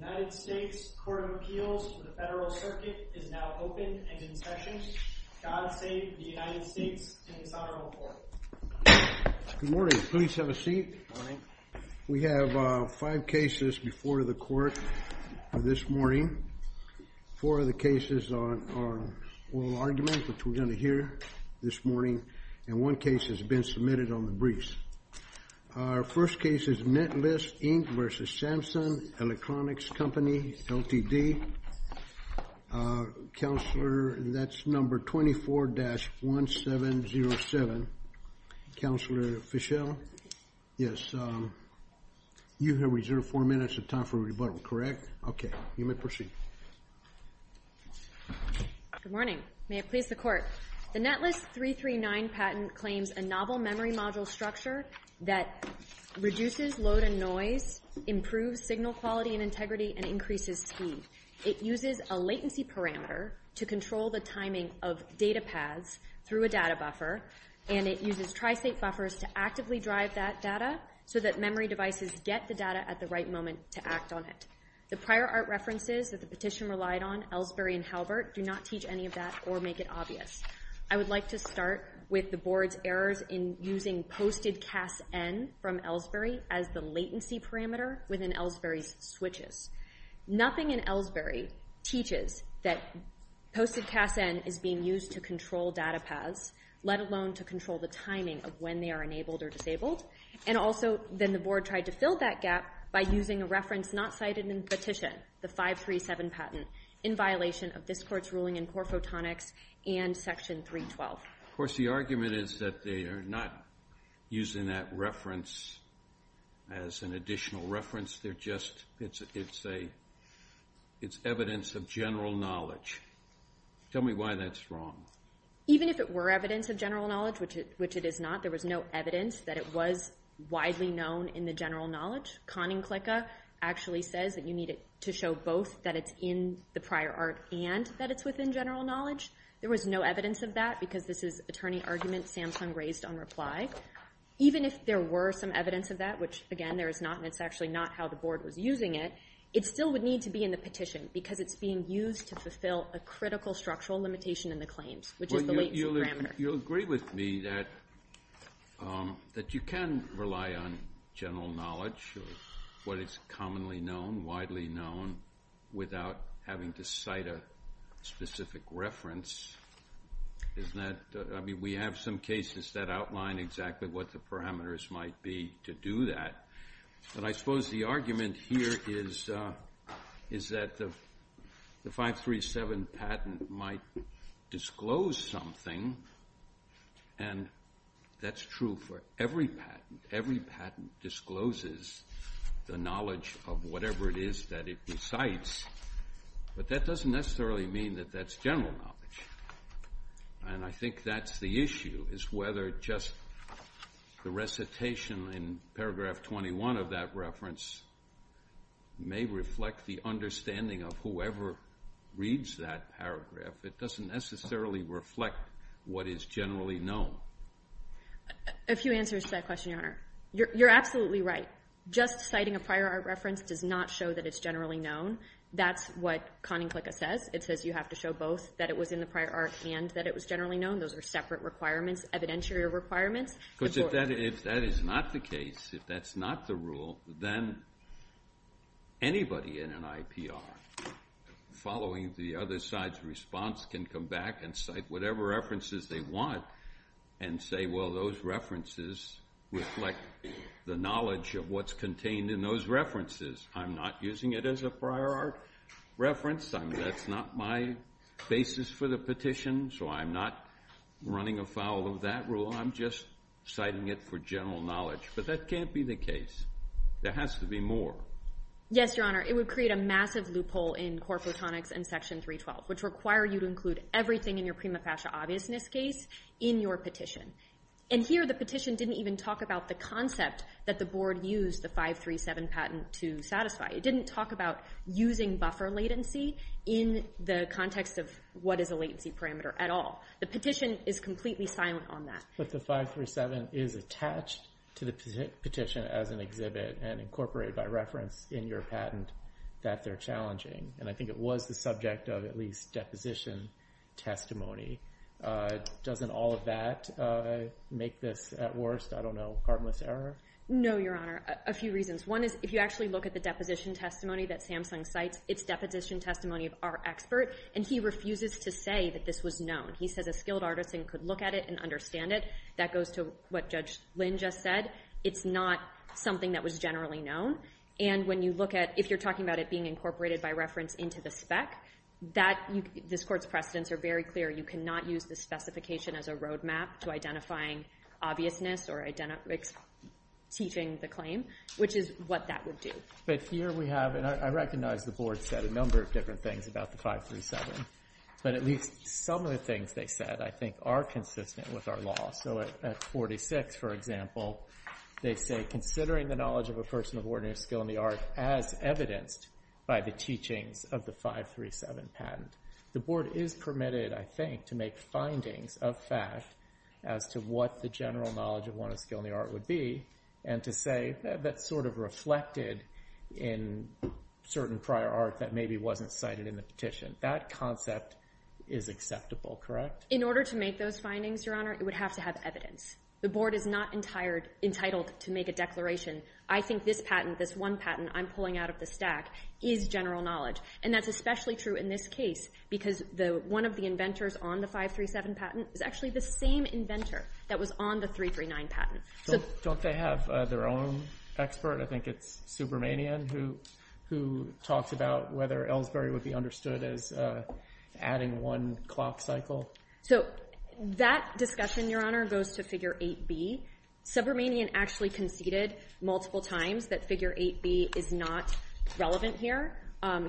The United States Court of Appeals for the Federal Circuit is now open and in session. God save the United States and His Honorable Court. Good morning. Please have a seat. Good morning. We have five cases before the court this morning. Four of the cases are oral arguments, which we're going to hear this morning, and one case has been submitted on the briefs. Our first case is Netlist, Inc. v. Samsung Electronics Co., Ltd. Counselor, that's number 24-1707. Counselor Fischel? Yes. You have reserved four minutes of time for rebuttal, correct? Okay. You may proceed. Good morning. May it please the Court. The Netlist 339 patent claims a novel memory module structure that reduces load and noise, improves signal quality and integrity, and increases speed. It uses a latency parameter to control the timing of data paths through a data buffer, and it uses tri-state buffers to actively drive that data so that memory devices get the data at the right moment to act on it. The prior art references that the petition relied on, Elsbury and Halbert, do not teach any of that or make it obvious. I would like to start with the Board's errors in using posted CASN from Elsbury as the latency parameter within Elsbury's switches. Nothing in Elsbury teaches that posted CASN is being used to control data paths, let alone to control the timing of when they are enabled or disabled, and also then the Board tried to fill that gap by using a reference not cited in the petition, the 537 patent, in violation of this Court's ruling in Core Photonics and Section 312. Of course, the argument is that they are not using that reference as an additional reference. It's evidence of general knowledge. Tell me why that's wrong. Even if it were evidence of general knowledge, which it is not, there was no evidence that it was widely known in the general knowledge. Conning-Clicca actually says that you need it to show both that it's in the prior art and that it's within general knowledge. There was no evidence of that because this is attorney argument Samsung raised on reply. Even if there were some evidence of that, which, again, there is not, and it's actually not how the Board was using it, it still would need to be in the petition because it's being used to fulfill a critical structural limitation in the claims, which is the latency parameter. You'll agree with me that you can rely on general knowledge of what is commonly known, widely known, without having to cite a specific reference. I mean, we have some cases that outline exactly what the parameters might be to do that. But I suppose the argument here is that the 537 patent might disclose something, and that's true for every patent. Every patent discloses the knowledge of whatever it is that it recites, but that doesn't necessarily mean that that's general knowledge. And I think that's the issue is whether just the recitation in paragraph 21 of that reference may reflect the understanding of whoever reads that paragraph. It doesn't necessarily reflect what is generally known. A few answers to that question, Your Honor. You're absolutely right. Just citing a prior art reference does not show that it's generally known. That's what Conning-Clicker says. It says you have to show both that it was in the prior art and that it was generally known. Those are separate requirements, evidentiary requirements. Because if that is not the case, if that's not the rule, then anybody in an IPR following the other side's response can come back and cite whatever references they want and say, well, those references reflect the knowledge of what's contained in those references. I'm not using it as a prior art reference. That's not my basis for the petition, so I'm not running afoul of that rule. I'm just citing it for general knowledge. But that can't be the case. There has to be more. Yes, Your Honor. It would create a massive loophole in core photonics and Section 312, which require you to include everything in your prima facie obviousness case in your petition. And here the petition didn't even talk about the concept that the board used the 537 patent to satisfy. It didn't talk about using buffer latency in the context of what is a latency parameter at all. The petition is completely silent on that. But the 537 is attached to the petition as an exhibit and incorporated by reference in your patent that they're challenging. And I think it was the subject of at least deposition testimony. Doesn't all of that make this, at worst, I don't know, harmless error? No, Your Honor, a few reasons. One is if you actually look at the deposition testimony that Samsung cites, it's deposition testimony of our expert, and he refuses to say that this was known. He says a skilled artist could look at it and understand it. That goes to what Judge Lynn just said. It's not something that was generally known. And when you look at, if you're talking about it being incorporated by reference into the spec, this Court's precedents are very clear. You cannot use the specification as a roadmap to identifying obviousness or teaching the claim, which is what that would do. But here we have, and I recognize the Board said a number of different things about the 537, but at least some of the things they said I think are consistent with our law. So at 46, for example, they say, considering the knowledge of a person of ordinary skill in the art as evidenced by the teachings of the 537 patent. The Board is permitted, I think, to make findings of fact as to what the general knowledge of one of skill in the art would be and to say that's sort of reflected in certain prior art that maybe wasn't cited in the petition. That concept is acceptable, correct? In order to make those findings, Your Honor, it would have to have evidence. The Board is not entitled to make a declaration, I think this patent, this one patent I'm pulling out of the stack, is general knowledge. And that's especially true in this case because one of the inventors on the 537 patent is actually the same inventor that was on the 339 patent. Don't they have their own expert? I think it's Subramanian who talks about whether Ellsbury would be understood as adding one clock cycle. So that discussion, Your Honor, goes to Figure 8B. Subramanian actually conceded multiple times that Figure 8B is not relevant here.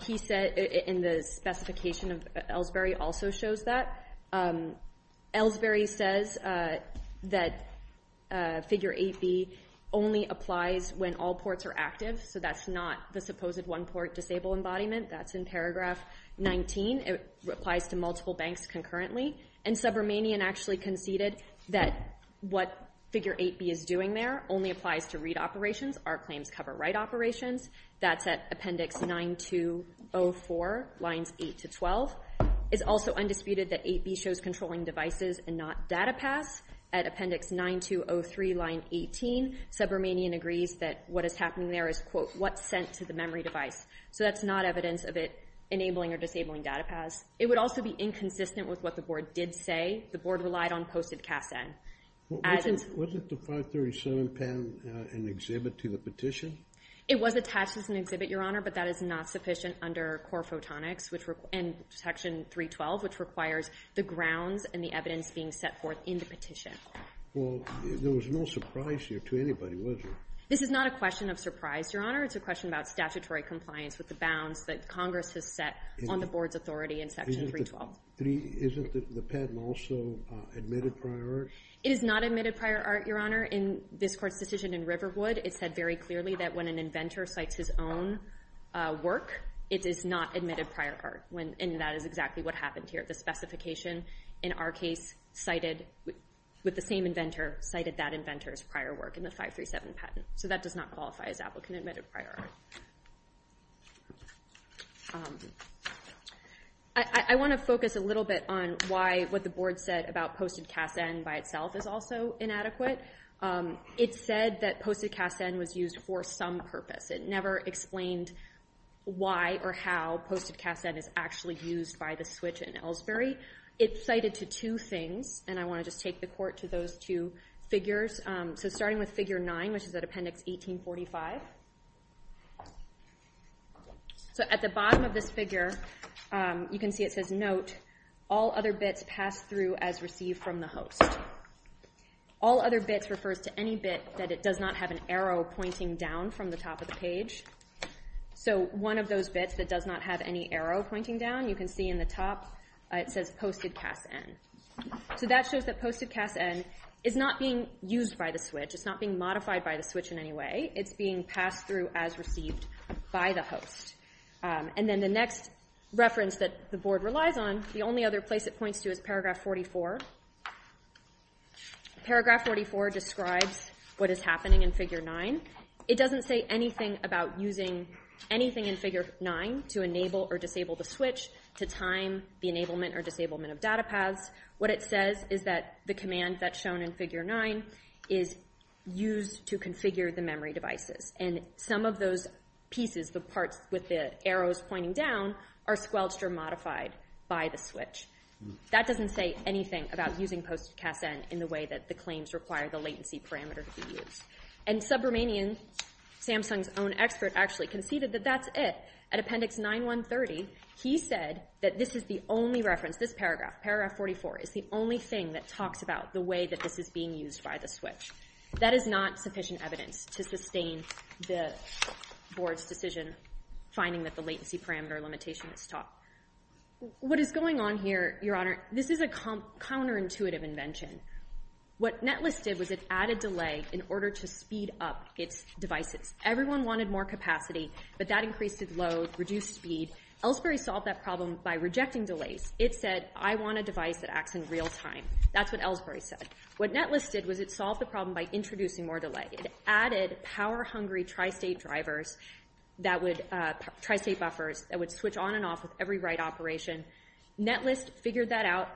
He said in the specification of Ellsbury also shows that. Ellsbury says that Figure 8B only applies when all ports are active. So that's not the supposed one port disabled embodiment. That's in paragraph 19. It applies to multiple banks concurrently. And Subramanian actually conceded that what Figure 8B is doing there only applies to read operations. Art claims cover write operations. That's at Appendix 9204, Lines 8 to 12. It's also undisputed that 8B shows controlling devices and not data paths. At Appendix 9203, Line 18, Subramanian agrees that what is happening there is, quote, what's sent to the memory device. So that's not evidence of it enabling or disabling data paths. It would also be inconsistent with what the Board did say. The Board relied on posted CASN. Wasn't the 537 patent an exhibit to the petition? It was attached as an exhibit, Your Honor, but that is not sufficient under core photonics and Section 312, which requires the grounds and the evidence being set forth in the petition. Well, there was no surprise here to anybody, was there? This is not a question of surprise, Your Honor. It's a question about statutory compliance with the bounds that Congress has set on the Board's authority in Section 312. Isn't the patent also admitted prior art? It is not admitted prior art, Your Honor. In this Court's decision in Riverwood, it said very clearly that when an inventor cites his own work, it is not admitted prior art, and that is exactly what happened here. The specification in our case with the same inventor cited that inventor's prior work in the 537 patent. So that does not qualify as applicant-admitted prior art. I want to focus a little bit on why what the Board said about posted CASN by itself is also inadequate. It said that posted CASN was used for some purpose. It never explained why or how posted CASN is actually used by the switch in Ellsbury. It's cited to two things, and I want to just take the Court to those two figures. So starting with Figure 9, which is at Appendix 1845. So at the bottom of this figure, you can see it says, All other bits pass through as received from the host. All other bits refers to any bit that it does not have an arrow pointing down from the top of the page. So one of those bits that does not have any arrow pointing down, you can see in the top it says posted CASN. So that shows that posted CASN is not being used by the switch. It's not being modified by the switch in any way. It's being passed through as received by the host. And then the next reference that the Board relies on, the only other place it points to is Paragraph 44. Paragraph 44 describes what is happening in Figure 9. It doesn't say anything about using anything in Figure 9 to enable or disable the switch to time the enablement or disablement of data paths. What it says is that the command that's shown in Figure 9 is used to configure the memory devices. And some of those pieces, the parts with the arrows pointing down, are squelched or modified by the switch. That doesn't say anything about using posted CASN in the way that the claims require the latency parameter to be used. And Subramanian, Samsung's own expert, actually conceded that that's it. At Appendix 9-130, he said that this is the only reference, this paragraph, Paragraph 44, is the only thing that talks about the way that this is being used by the switch. That is not sufficient evidence to sustain the Board's decision finding that the latency parameter limitation is taught. What is going on here, Your Honor, this is a counterintuitive invention. What Netlist did was it added delay in order to speed up its devices. Everyone wanted more capacity, but that increased its load, reduced speed. Ellsbury solved that problem by rejecting delays. It said, I want a device that acts in real time. That's what Ellsbury said. What Netlist did was it solved the problem by introducing more delay. It added power-hungry tri-state drivers, tri-state buffers, that would switch on and off with every write operation. Netlist figured out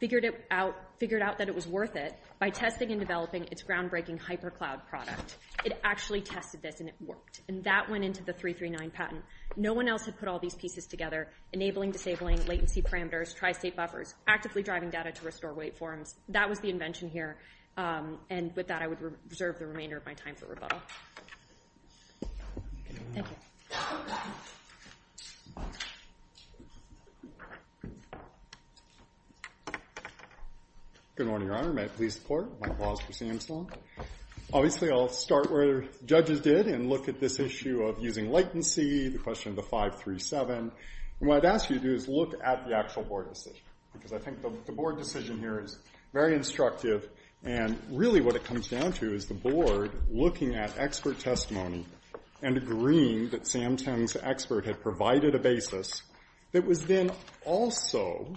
that it was worth it by testing and developing its groundbreaking HyperCloud product. It actually tested this, and it worked. And that went into the 339 patent. No one else had put all these pieces together, enabling, disabling, latency parameters, tri-state buffers, actively driving data to restore wait forms. That was the invention here. And with that, I would reserve the remainder of my time for rebuttal. Thank you. Good morning, Your Honor. May it please the Court. Mike Walsh for CM Sloan. Obviously, I'll start where judges did and look at this issue of using latency, the question of the 537. And what I'd ask you to do is look at the actual board decision, because I think the board decision here is very instructive, and really what it comes down to is the board looking at expert testimony and agreeing that Sam Teng's expert had provided a basis that was then also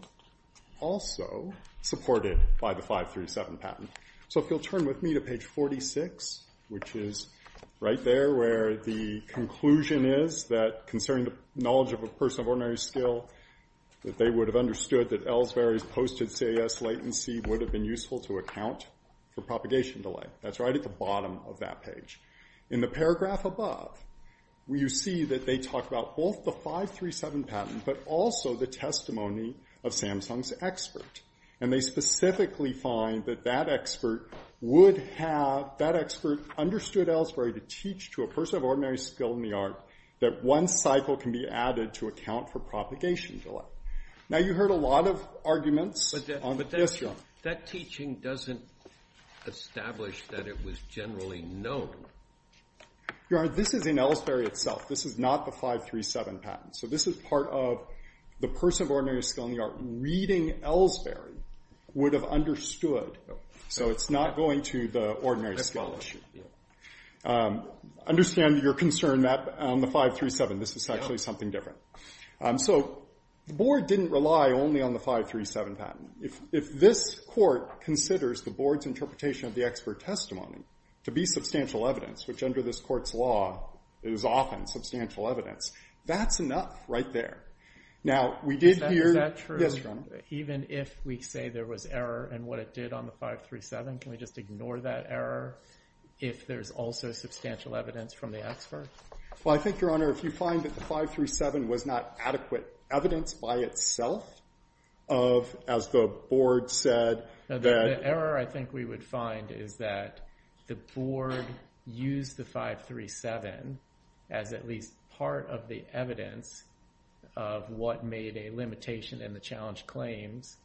supported by the 537 patent. So if you'll turn with me to page 46, which is right there where the conclusion is that concerning the knowledge of a person of ordinary skill, that they would have understood that Ellsbury's posted CAS latency would have been useful to account for propagation delay. That's right at the bottom of that page. In the paragraph above, you see that they talk about both the 537 patent but also the testimony of Samsung's expert. And they specifically find that that expert understood Ellsbury to teach to a person of ordinary skill in the art that one cycle can be added to account for propagation delay. Now, you heard a lot of arguments on this. But that teaching doesn't establish that it was generally known. Your Honor, this is in Ellsbury itself. This is not the 537 patent. So this is part of the person of ordinary skill in the art reading Ellsbury would have understood. So it's not going to the ordinary skill issue. I understand your concern on the 537. This is actually something different. So the board didn't rely only on the 537 patent. If this court considers the board's interpretation of the expert testimony to be substantial evidence, which under this court's law is often substantial evidence, that's enough right there. Now, we did hear... Is that true? Yes, Your Honor. Even if we say there was error in what it did on the 537, can we just ignore that error if there's also substantial evidence from the expert? Well, I think, Your Honor, if you find that the 537 was not adequate evidence by itself, as the board said that... The error I think we would find is that the board used the 537 as at least part of the evidence of what made a limitation in the challenge claims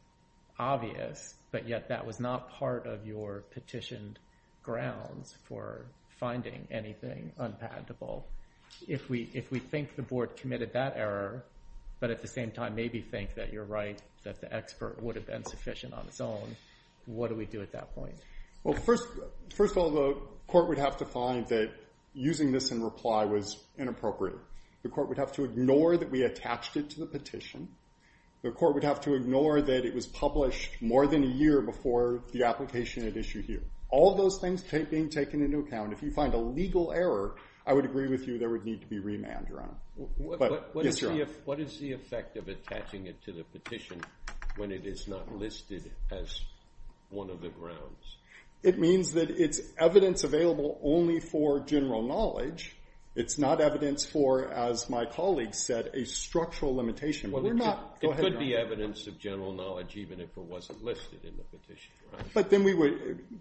obvious, but yet that was not part of your petitioned grounds for finding anything unpatentable. If we think the board committed that error, but at the same time maybe think that you're right, that the expert would have been sufficient on its own, what do we do at that point? Well, first of all, the court would have to find that using this in reply was inappropriate. The court would have to ignore that we attached it to the petition. The court would have to ignore that it was published more than a year before the application at issue here. All those things being taken into account, if you find a legal error, I would agree with you, there would need to be remand, Your Honor. What is the effect of attaching it to the petition when it is not listed as one of the grounds? It means that it's evidence available only for general knowledge. It's not evidence for, as my colleague said, a structural limitation. It could be evidence of general knowledge even if it wasn't listed in the petition.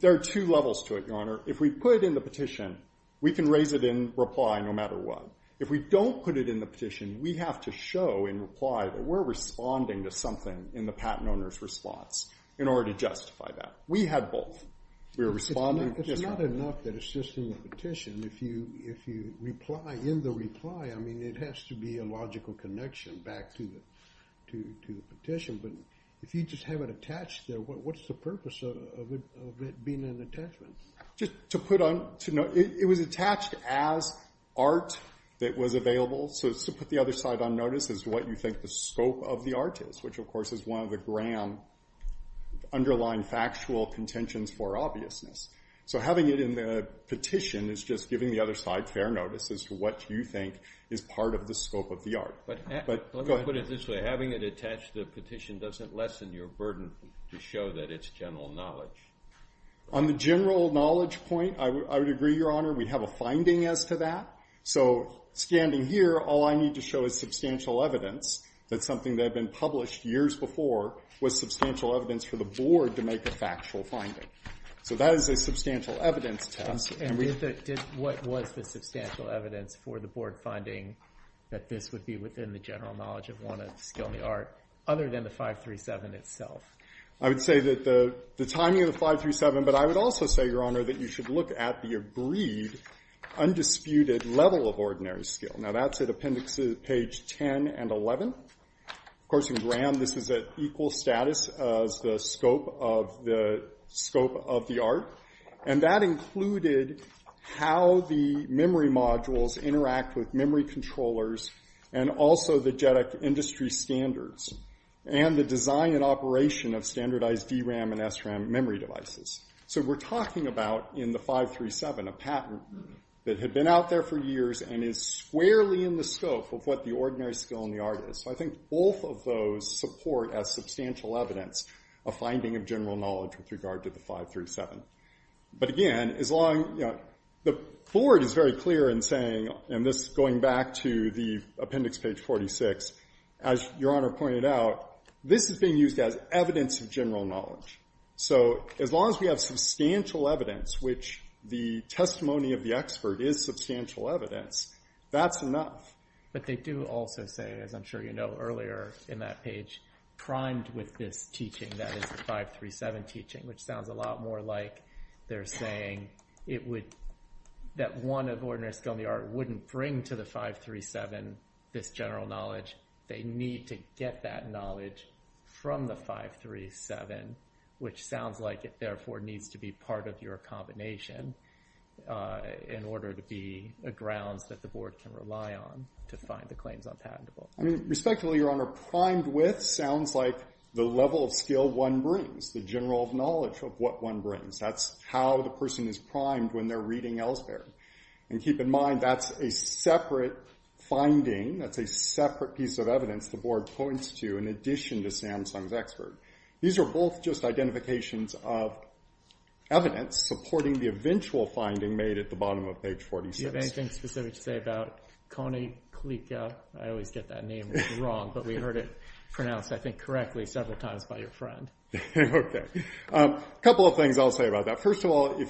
There are two levels to it, Your Honor. If we put it in the petition, we can raise it in reply no matter what. If we don't put it in the petition, we have to show in reply that we're responding to something in the patent owner's response in order to justify that. We had both. It's not enough that it's just in the petition. In the reply, it has to be a logical connection back to the petition. If you just have it attached there, what's the purpose of it being an attachment? It was attached as art that was available. To put the other side on notice is what you think the scope of the art is, which, of course, is one of the grand underlying factual contentions for obviousness. So having it in the petition is just giving the other side fair notice as to what you think is part of the scope of the art. Let me put it this way. Having it attached to the petition doesn't lessen your burden to show that it's general knowledge. On the general knowledge point, I would agree, Your Honor. We have a finding as to that. So standing here, all I need to show is substantial evidence that something that had been published years before was substantial evidence for the board to make a factual finding. So that is a substantial evidence test. And what was the substantial evidence for the board finding that this would be within the general knowledge of one of the skill in the art, other than the 537 itself? I would say that the timing of the 537, but I would also say, Your Honor, that you should look at the agreed, undisputed level of ordinary skill. Now, that's at appendices page 10 and 11. Of course, in Graham, this is at equal status as the scope of the art. And that included how the memory modules interact with memory controllers, and also the JEDEC industry standards, and the design and operation of standardized DRAM and SRAM memory devices. So we're talking about, in the 537, a patent that had been out there for years and is squarely in the scope of what the ordinary skill in the art is. So I think both of those support as substantial evidence a finding of general knowledge with regard to the 537. But again, the board is very clear in saying, and this is going back to the appendix page 46, as Your Honor pointed out, this is being used as evidence of general knowledge. So as long as we have substantial evidence, which the testimony of the expert is substantial evidence, that's enough. But they do also say, as I'm sure you know earlier in that page, primed with this teaching that is the 537 teaching, which sounds a lot more like they're saying that one of ordinary skill in the art wouldn't bring to the 537 this general knowledge. They need to get that knowledge from the 537, which sounds like it therefore needs to be part of your combination in order to be grounds that the board can rely on to find the claims on patentable. Respectfully, Your Honor, primed with sounds like the level of skill one brings, the general knowledge of what one brings. That's how the person is primed when they're reading Ellsberg. And keep in mind, that's a separate finding. That's a separate piece of evidence the board points to in addition to Samsung's expert. These are both just identifications of evidence supporting the eventual finding made at the bottom of page 46. Do you have anything specific to say about Kony Klika? I always get that name wrong, but we heard it pronounced, I think, correctly several times by your friend. OK. A couple of things I'll say about that. First of all,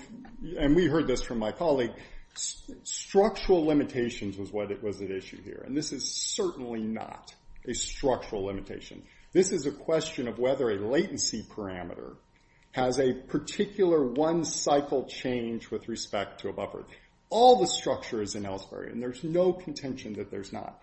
and we heard this from my colleague, structural limitations was at issue here. And this is certainly not a structural limitation. This is a question of whether a latency parameter has a particular one cycle change with respect to a buffer. All the structure is in Ellsberg, and there's no contention that there's not.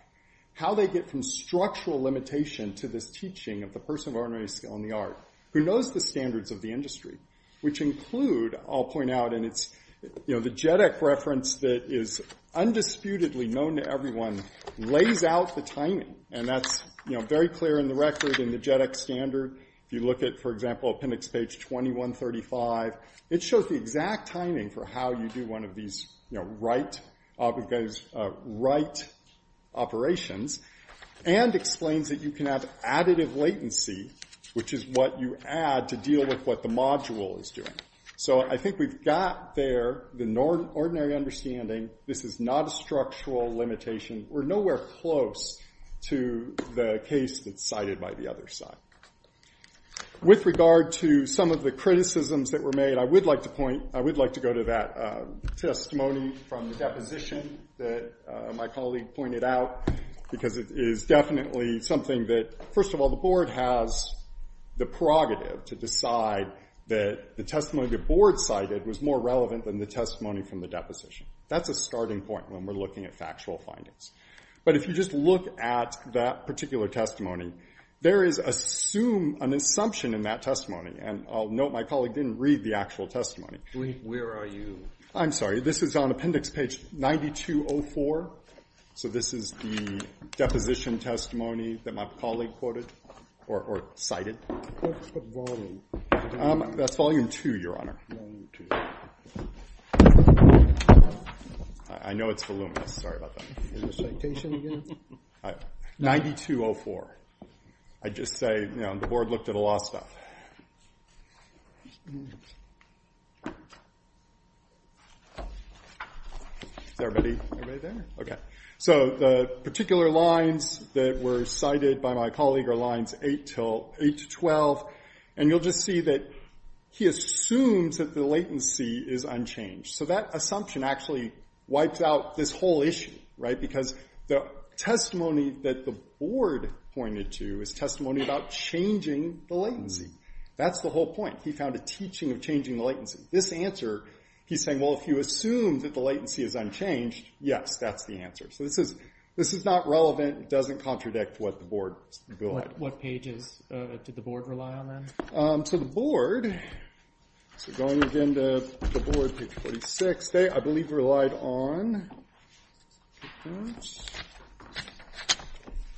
How they get from structural limitation to this teaching of the person of ordinary skill in the art, who knows the standards of the industry, which include, I'll point out, and it's the JEDEC reference that is undisputedly known to everyone, lays out the timing. And that's very clear in the record in the JEDEC standard. If you look at, for example, appendix page 2135, it shows the exact timing for how you do one of these right operations and explains that you can have additive latency, which is what you add to deal with what the module is doing. So I think we've got there the ordinary understanding, this is not a structural limitation. We're nowhere close to the case that's cited by the other side. With regard to some of the criticisms that were made, I would like to point, I would like to go to that testimony from the deposition that my colleague pointed out. Because it is definitely something that, first of all, the board has the prerogative to decide that the testimony the board cited was more relevant than the testimony from the deposition. That's a starting point when we're looking at factual findings. But if you just look at that particular testimony, there is an assumption in that testimony. And I'll note my colleague didn't read the actual testimony. Where are you? I'm sorry. This is on appendix page 9204. So this is the deposition testimony that my colleague quoted or cited. What's the volume? That's volume two, Your Honor. I know it's voluminous. Sorry about that. Is it a citation again? 9204. I just say the board looked at a lot of stuff. Is everybody there? OK. So the particular lines that were cited by my colleague are lines 8 to 12. And you'll just see that he assumes that the latency is unchanged. So that assumption actually wipes out this whole issue. Right? Because the testimony that the board pointed to is testimony about changing the latency. That's the whole point. He found a teaching of changing the latency. This answer, he's saying, well, if you assume that the latency is unchanged, yes, that's the answer. So this is not relevant. It doesn't contradict what the board said. What pages did the board rely on then? So the board, so going again to the board, page 46, they, I believe, relied on.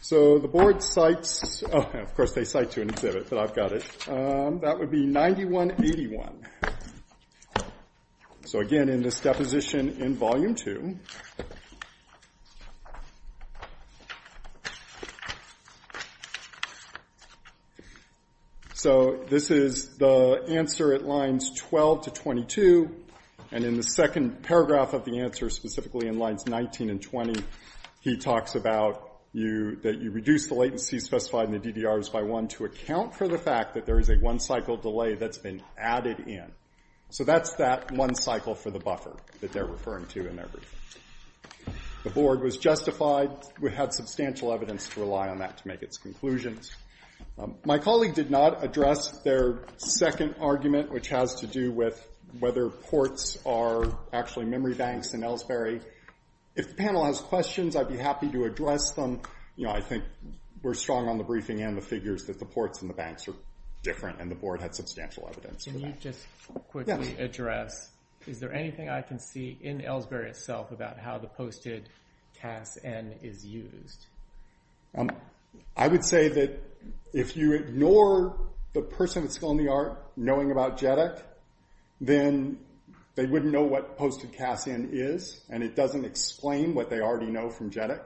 So the board cites, of course, they cite to an exhibit, but I've got it. That would be 9181. So again, in this deposition in volume two. So this is the answer at lines 12 to 22. And in the second paragraph of the answer, specifically in lines 19 and 20, he talks about that you reduce the latency specified in the DDRs by one to account for the fact that there is a one cycle delay that's been added in. So that's that one cycle for the buffer that they're referring to in their briefing. The board was justified. We had substantial evidence to rely on that to make its conclusions. My colleague did not address their second argument, which has to do with whether ports are actually memory banks in Ellsbury. If the panel has questions, I'd be happy to address them. You know, I think we're strong on the briefing and the figures that the ports and the banks are different, and the board had substantial evidence for that. Can you just quickly address, is there anything I can see in Ellsbury itself about how the posted CASN is used? I would say that if you ignore the person at Skill and the Art knowing about JEDEC, then they wouldn't know what posted CASN is. And it doesn't explain what they already know from JEDEC.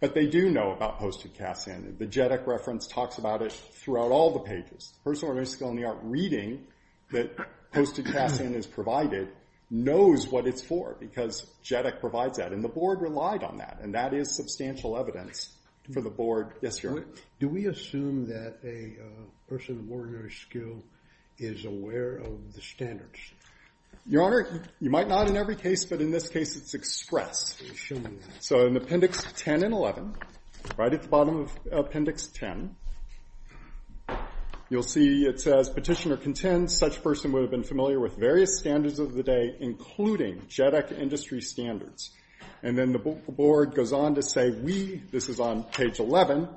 But they do know about posted CASN. The JEDEC reference talks about it throughout all the pages. The person at Skill and the Art reading that posted CASN is provided knows what it's for, because JEDEC provides that. And the board relied on that. And that is substantial evidence for the board. Yes, Your Honor. Do we assume that a person at ordinary skill is aware of the standards? Your Honor, you might not in every case. But in this case, it's expressed. So in appendix 10 and 11, right at the bottom of appendix 10, you'll see it says, petitioner contends such person would have been familiar with various standards of the day, including JEDEC industry standards. And then the board goes on to say, we, this is on page 11,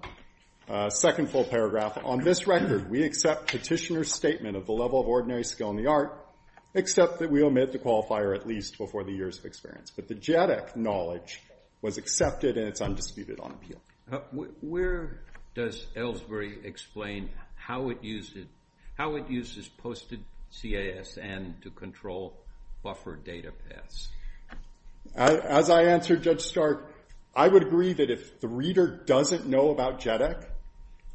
second full paragraph, on this record, we accept petitioner's statement of the level of ordinary skill in the art, except that we omit the qualifier at least before the years of experience. But the JEDEC knowledge was accepted and it's undisputed on appeal. Where does Ellsbury explain how it uses posted CASN to control buffer data paths? As I answered Judge Stark, I would agree that if the reader doesn't know about JEDEC,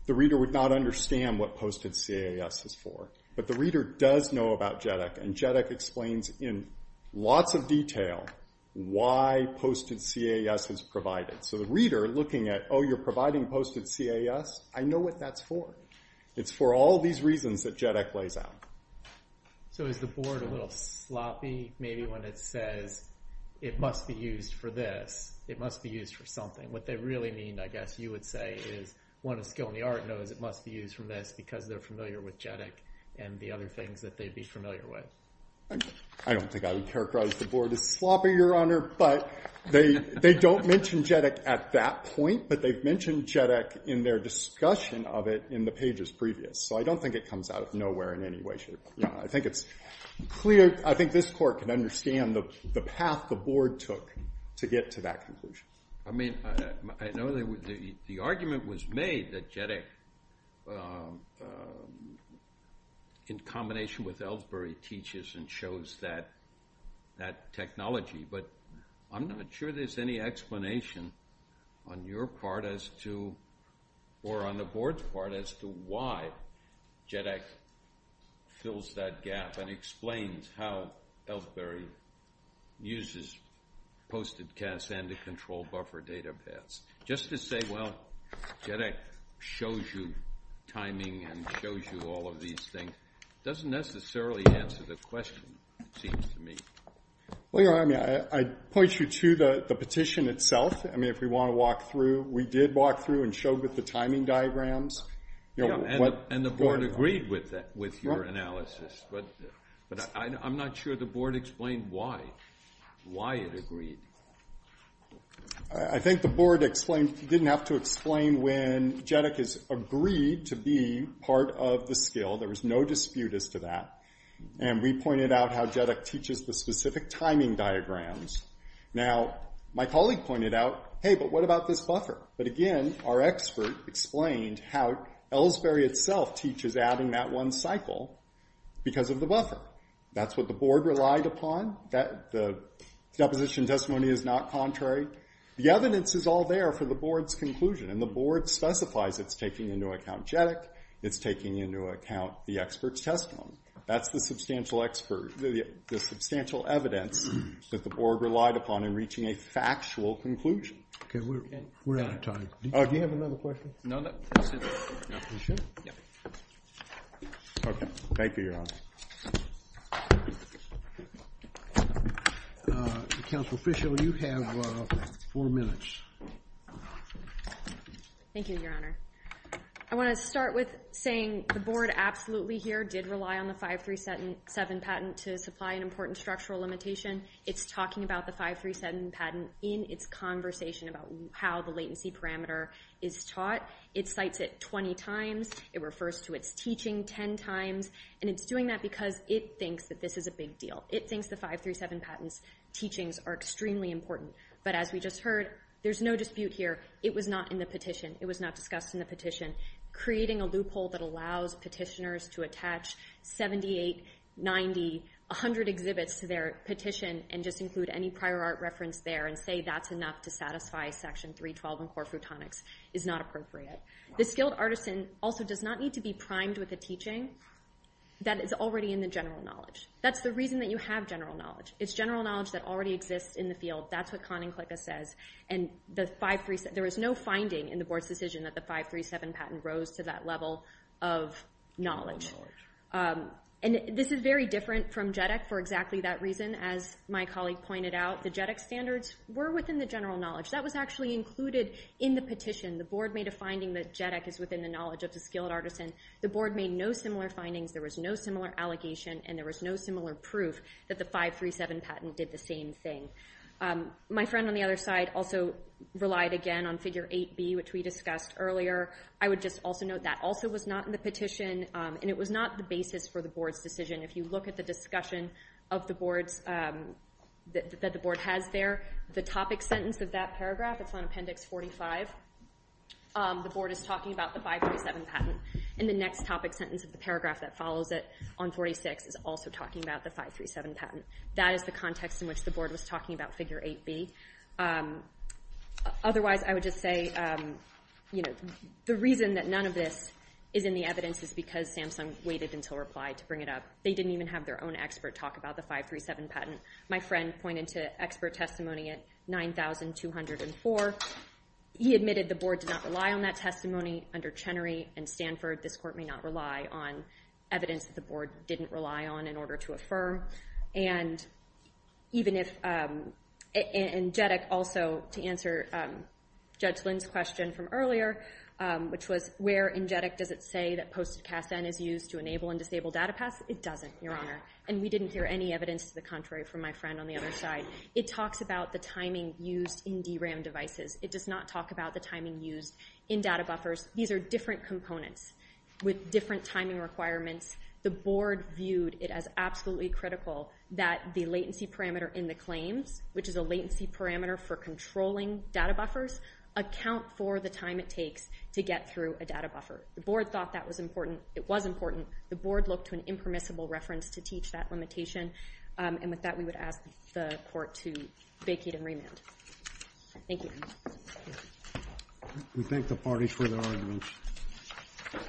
the reader would not understand what posted CAS is for. But the reader does know about JEDEC. And JEDEC explains in lots of detail why posted CAS is provided. So the reader looking at, oh, you're providing posted CAS, I know what that's for. It's for all these reasons that JEDEC lays out. So is the board a little sloppy maybe when it says, it must be used for this, it must be used for something? What they really mean, I guess you would say, is one of skill in the art knows it must be used for this because they're familiar with JEDEC and the other things that they'd be familiar with. I don't think I would characterize the board as sloppy, Your Honor, but they don't mention JEDEC at that point, but they've mentioned JEDEC in their discussion of it in the pages previous. So I don't think it comes out of nowhere in any way. I think it's clear. I think this court can understand the path the board took to get to that conclusion. I mean, I know the argument was made that JEDEC, in combination with Ellsbury, teaches and shows that technology, but I'm not sure there's any explanation on your part as to, or on the board's part as to why JEDEC fills that gap and explains how Ellsbury uses posted casts and the control buffer data paths. Just to say, well, JEDEC shows you timing and shows you all of these things, doesn't necessarily answer the question, it seems to me. Well, Your Honor, I point you to the petition itself. I mean, if we want to walk through, we did walk through and show with the timing diagrams. And the board agreed with your analysis, but I'm not sure the board explained why it agreed. I think the board didn't have to explain when JEDEC has agreed to be part of the skill. There was no dispute as to that. And we pointed out how JEDEC teaches the specific timing diagrams. Now, my colleague pointed out, hey, but what about this buffer? But again, our expert explained how Ellsbury itself teaches out in that one cycle because of the buffer. That's what the board relied upon. The deposition testimony is not contrary. The evidence is all there for the board's conclusion, and the board specifies it's taking into account JEDEC, it's taking into account the expert's testimony. That's the substantial evidence that the board relied upon in reaching a factual conclusion. Okay, we're out of time. Do you have another question? No, that's it. You sure? Yeah. Okay. Thank you, Your Honor. Counsel Fischel, you have four minutes. Thank you, Your Honor. I want to start with saying the board absolutely here did rely on the 537 patent to supply an important structural limitation. It's talking about the 537 patent in its conversation about how the latency parameter is taught. It cites it 20 times. It refers to its teaching 10 times. And it's doing that because it thinks that this is a big deal. It thinks the 537 patent's teachings are extremely important. But as we just heard, there's no dispute here. It was not in the petition. It was not discussed in the petition. Creating a loophole that allows petitioners to attach 78, 90, 100 exhibits to their petition and just include any prior art reference there and say that's enough to satisfy Section 312 in core frutonics is not appropriate. The skilled artisan also does not need to be primed with a teaching that is already in the general knowledge. That's the reason that you have general knowledge. It's general knowledge that already exists in the field. That's what Kahn and Klicka says. There was no finding in the board's decision that the 537 patent rose to that level of knowledge. And this is very different from JEDEC for exactly that reason. As my colleague pointed out, the JEDEC standards were within the general knowledge. That was actually included in the petition. The board made a finding that JEDEC is within the knowledge of the skilled artisan. The board made no similar findings. There was no similar allegation, and there was no similar proof that the 537 patent did the same thing. My friend on the other side also relied again on Figure 8B, which we discussed earlier. I would just also note that also was not in the petition, and it was not the basis for the board's decision. If you look at the discussion that the board has there, the topic sentence of that paragraph, it's on Appendix 45. The board is talking about the 537 patent, and the next topic sentence of the paragraph that follows it on 46 is also talking about the 537 patent. That is the context in which the board was talking about Figure 8B. Otherwise, I would just say the reason that none of this is in the evidence is because Samsung waited until replied to bring it up. They didn't even have their own expert talk about the 537 patent. My friend pointed to expert testimony at 9,204. He admitted the board did not rely on that testimony. Under Chenery and Stanford, this court may not rely on evidence that the board didn't rely on in order to affirm, and even if Engetic also, to answer Judge Lynn's question from earlier, which was where in Engetic does it say that Post-it Cast-in is used to enable and disable data paths? It doesn't, Your Honor, and we didn't hear any evidence to the contrary from my friend on the other side. It talks about the timing used in DRAM devices. It does not talk about the timing used in data buffers. These are different components with different timing requirements. The board viewed it as absolutely critical that the latency parameter in the claims, which is a latency parameter for controlling data buffers, account for the time it takes to get through a data buffer. The board thought that was important. It was important. The board looked to an impermissible reference to teach that limitation, and with that, we would ask the court to vacate and remand. Thank you. We thank the party for their arguments.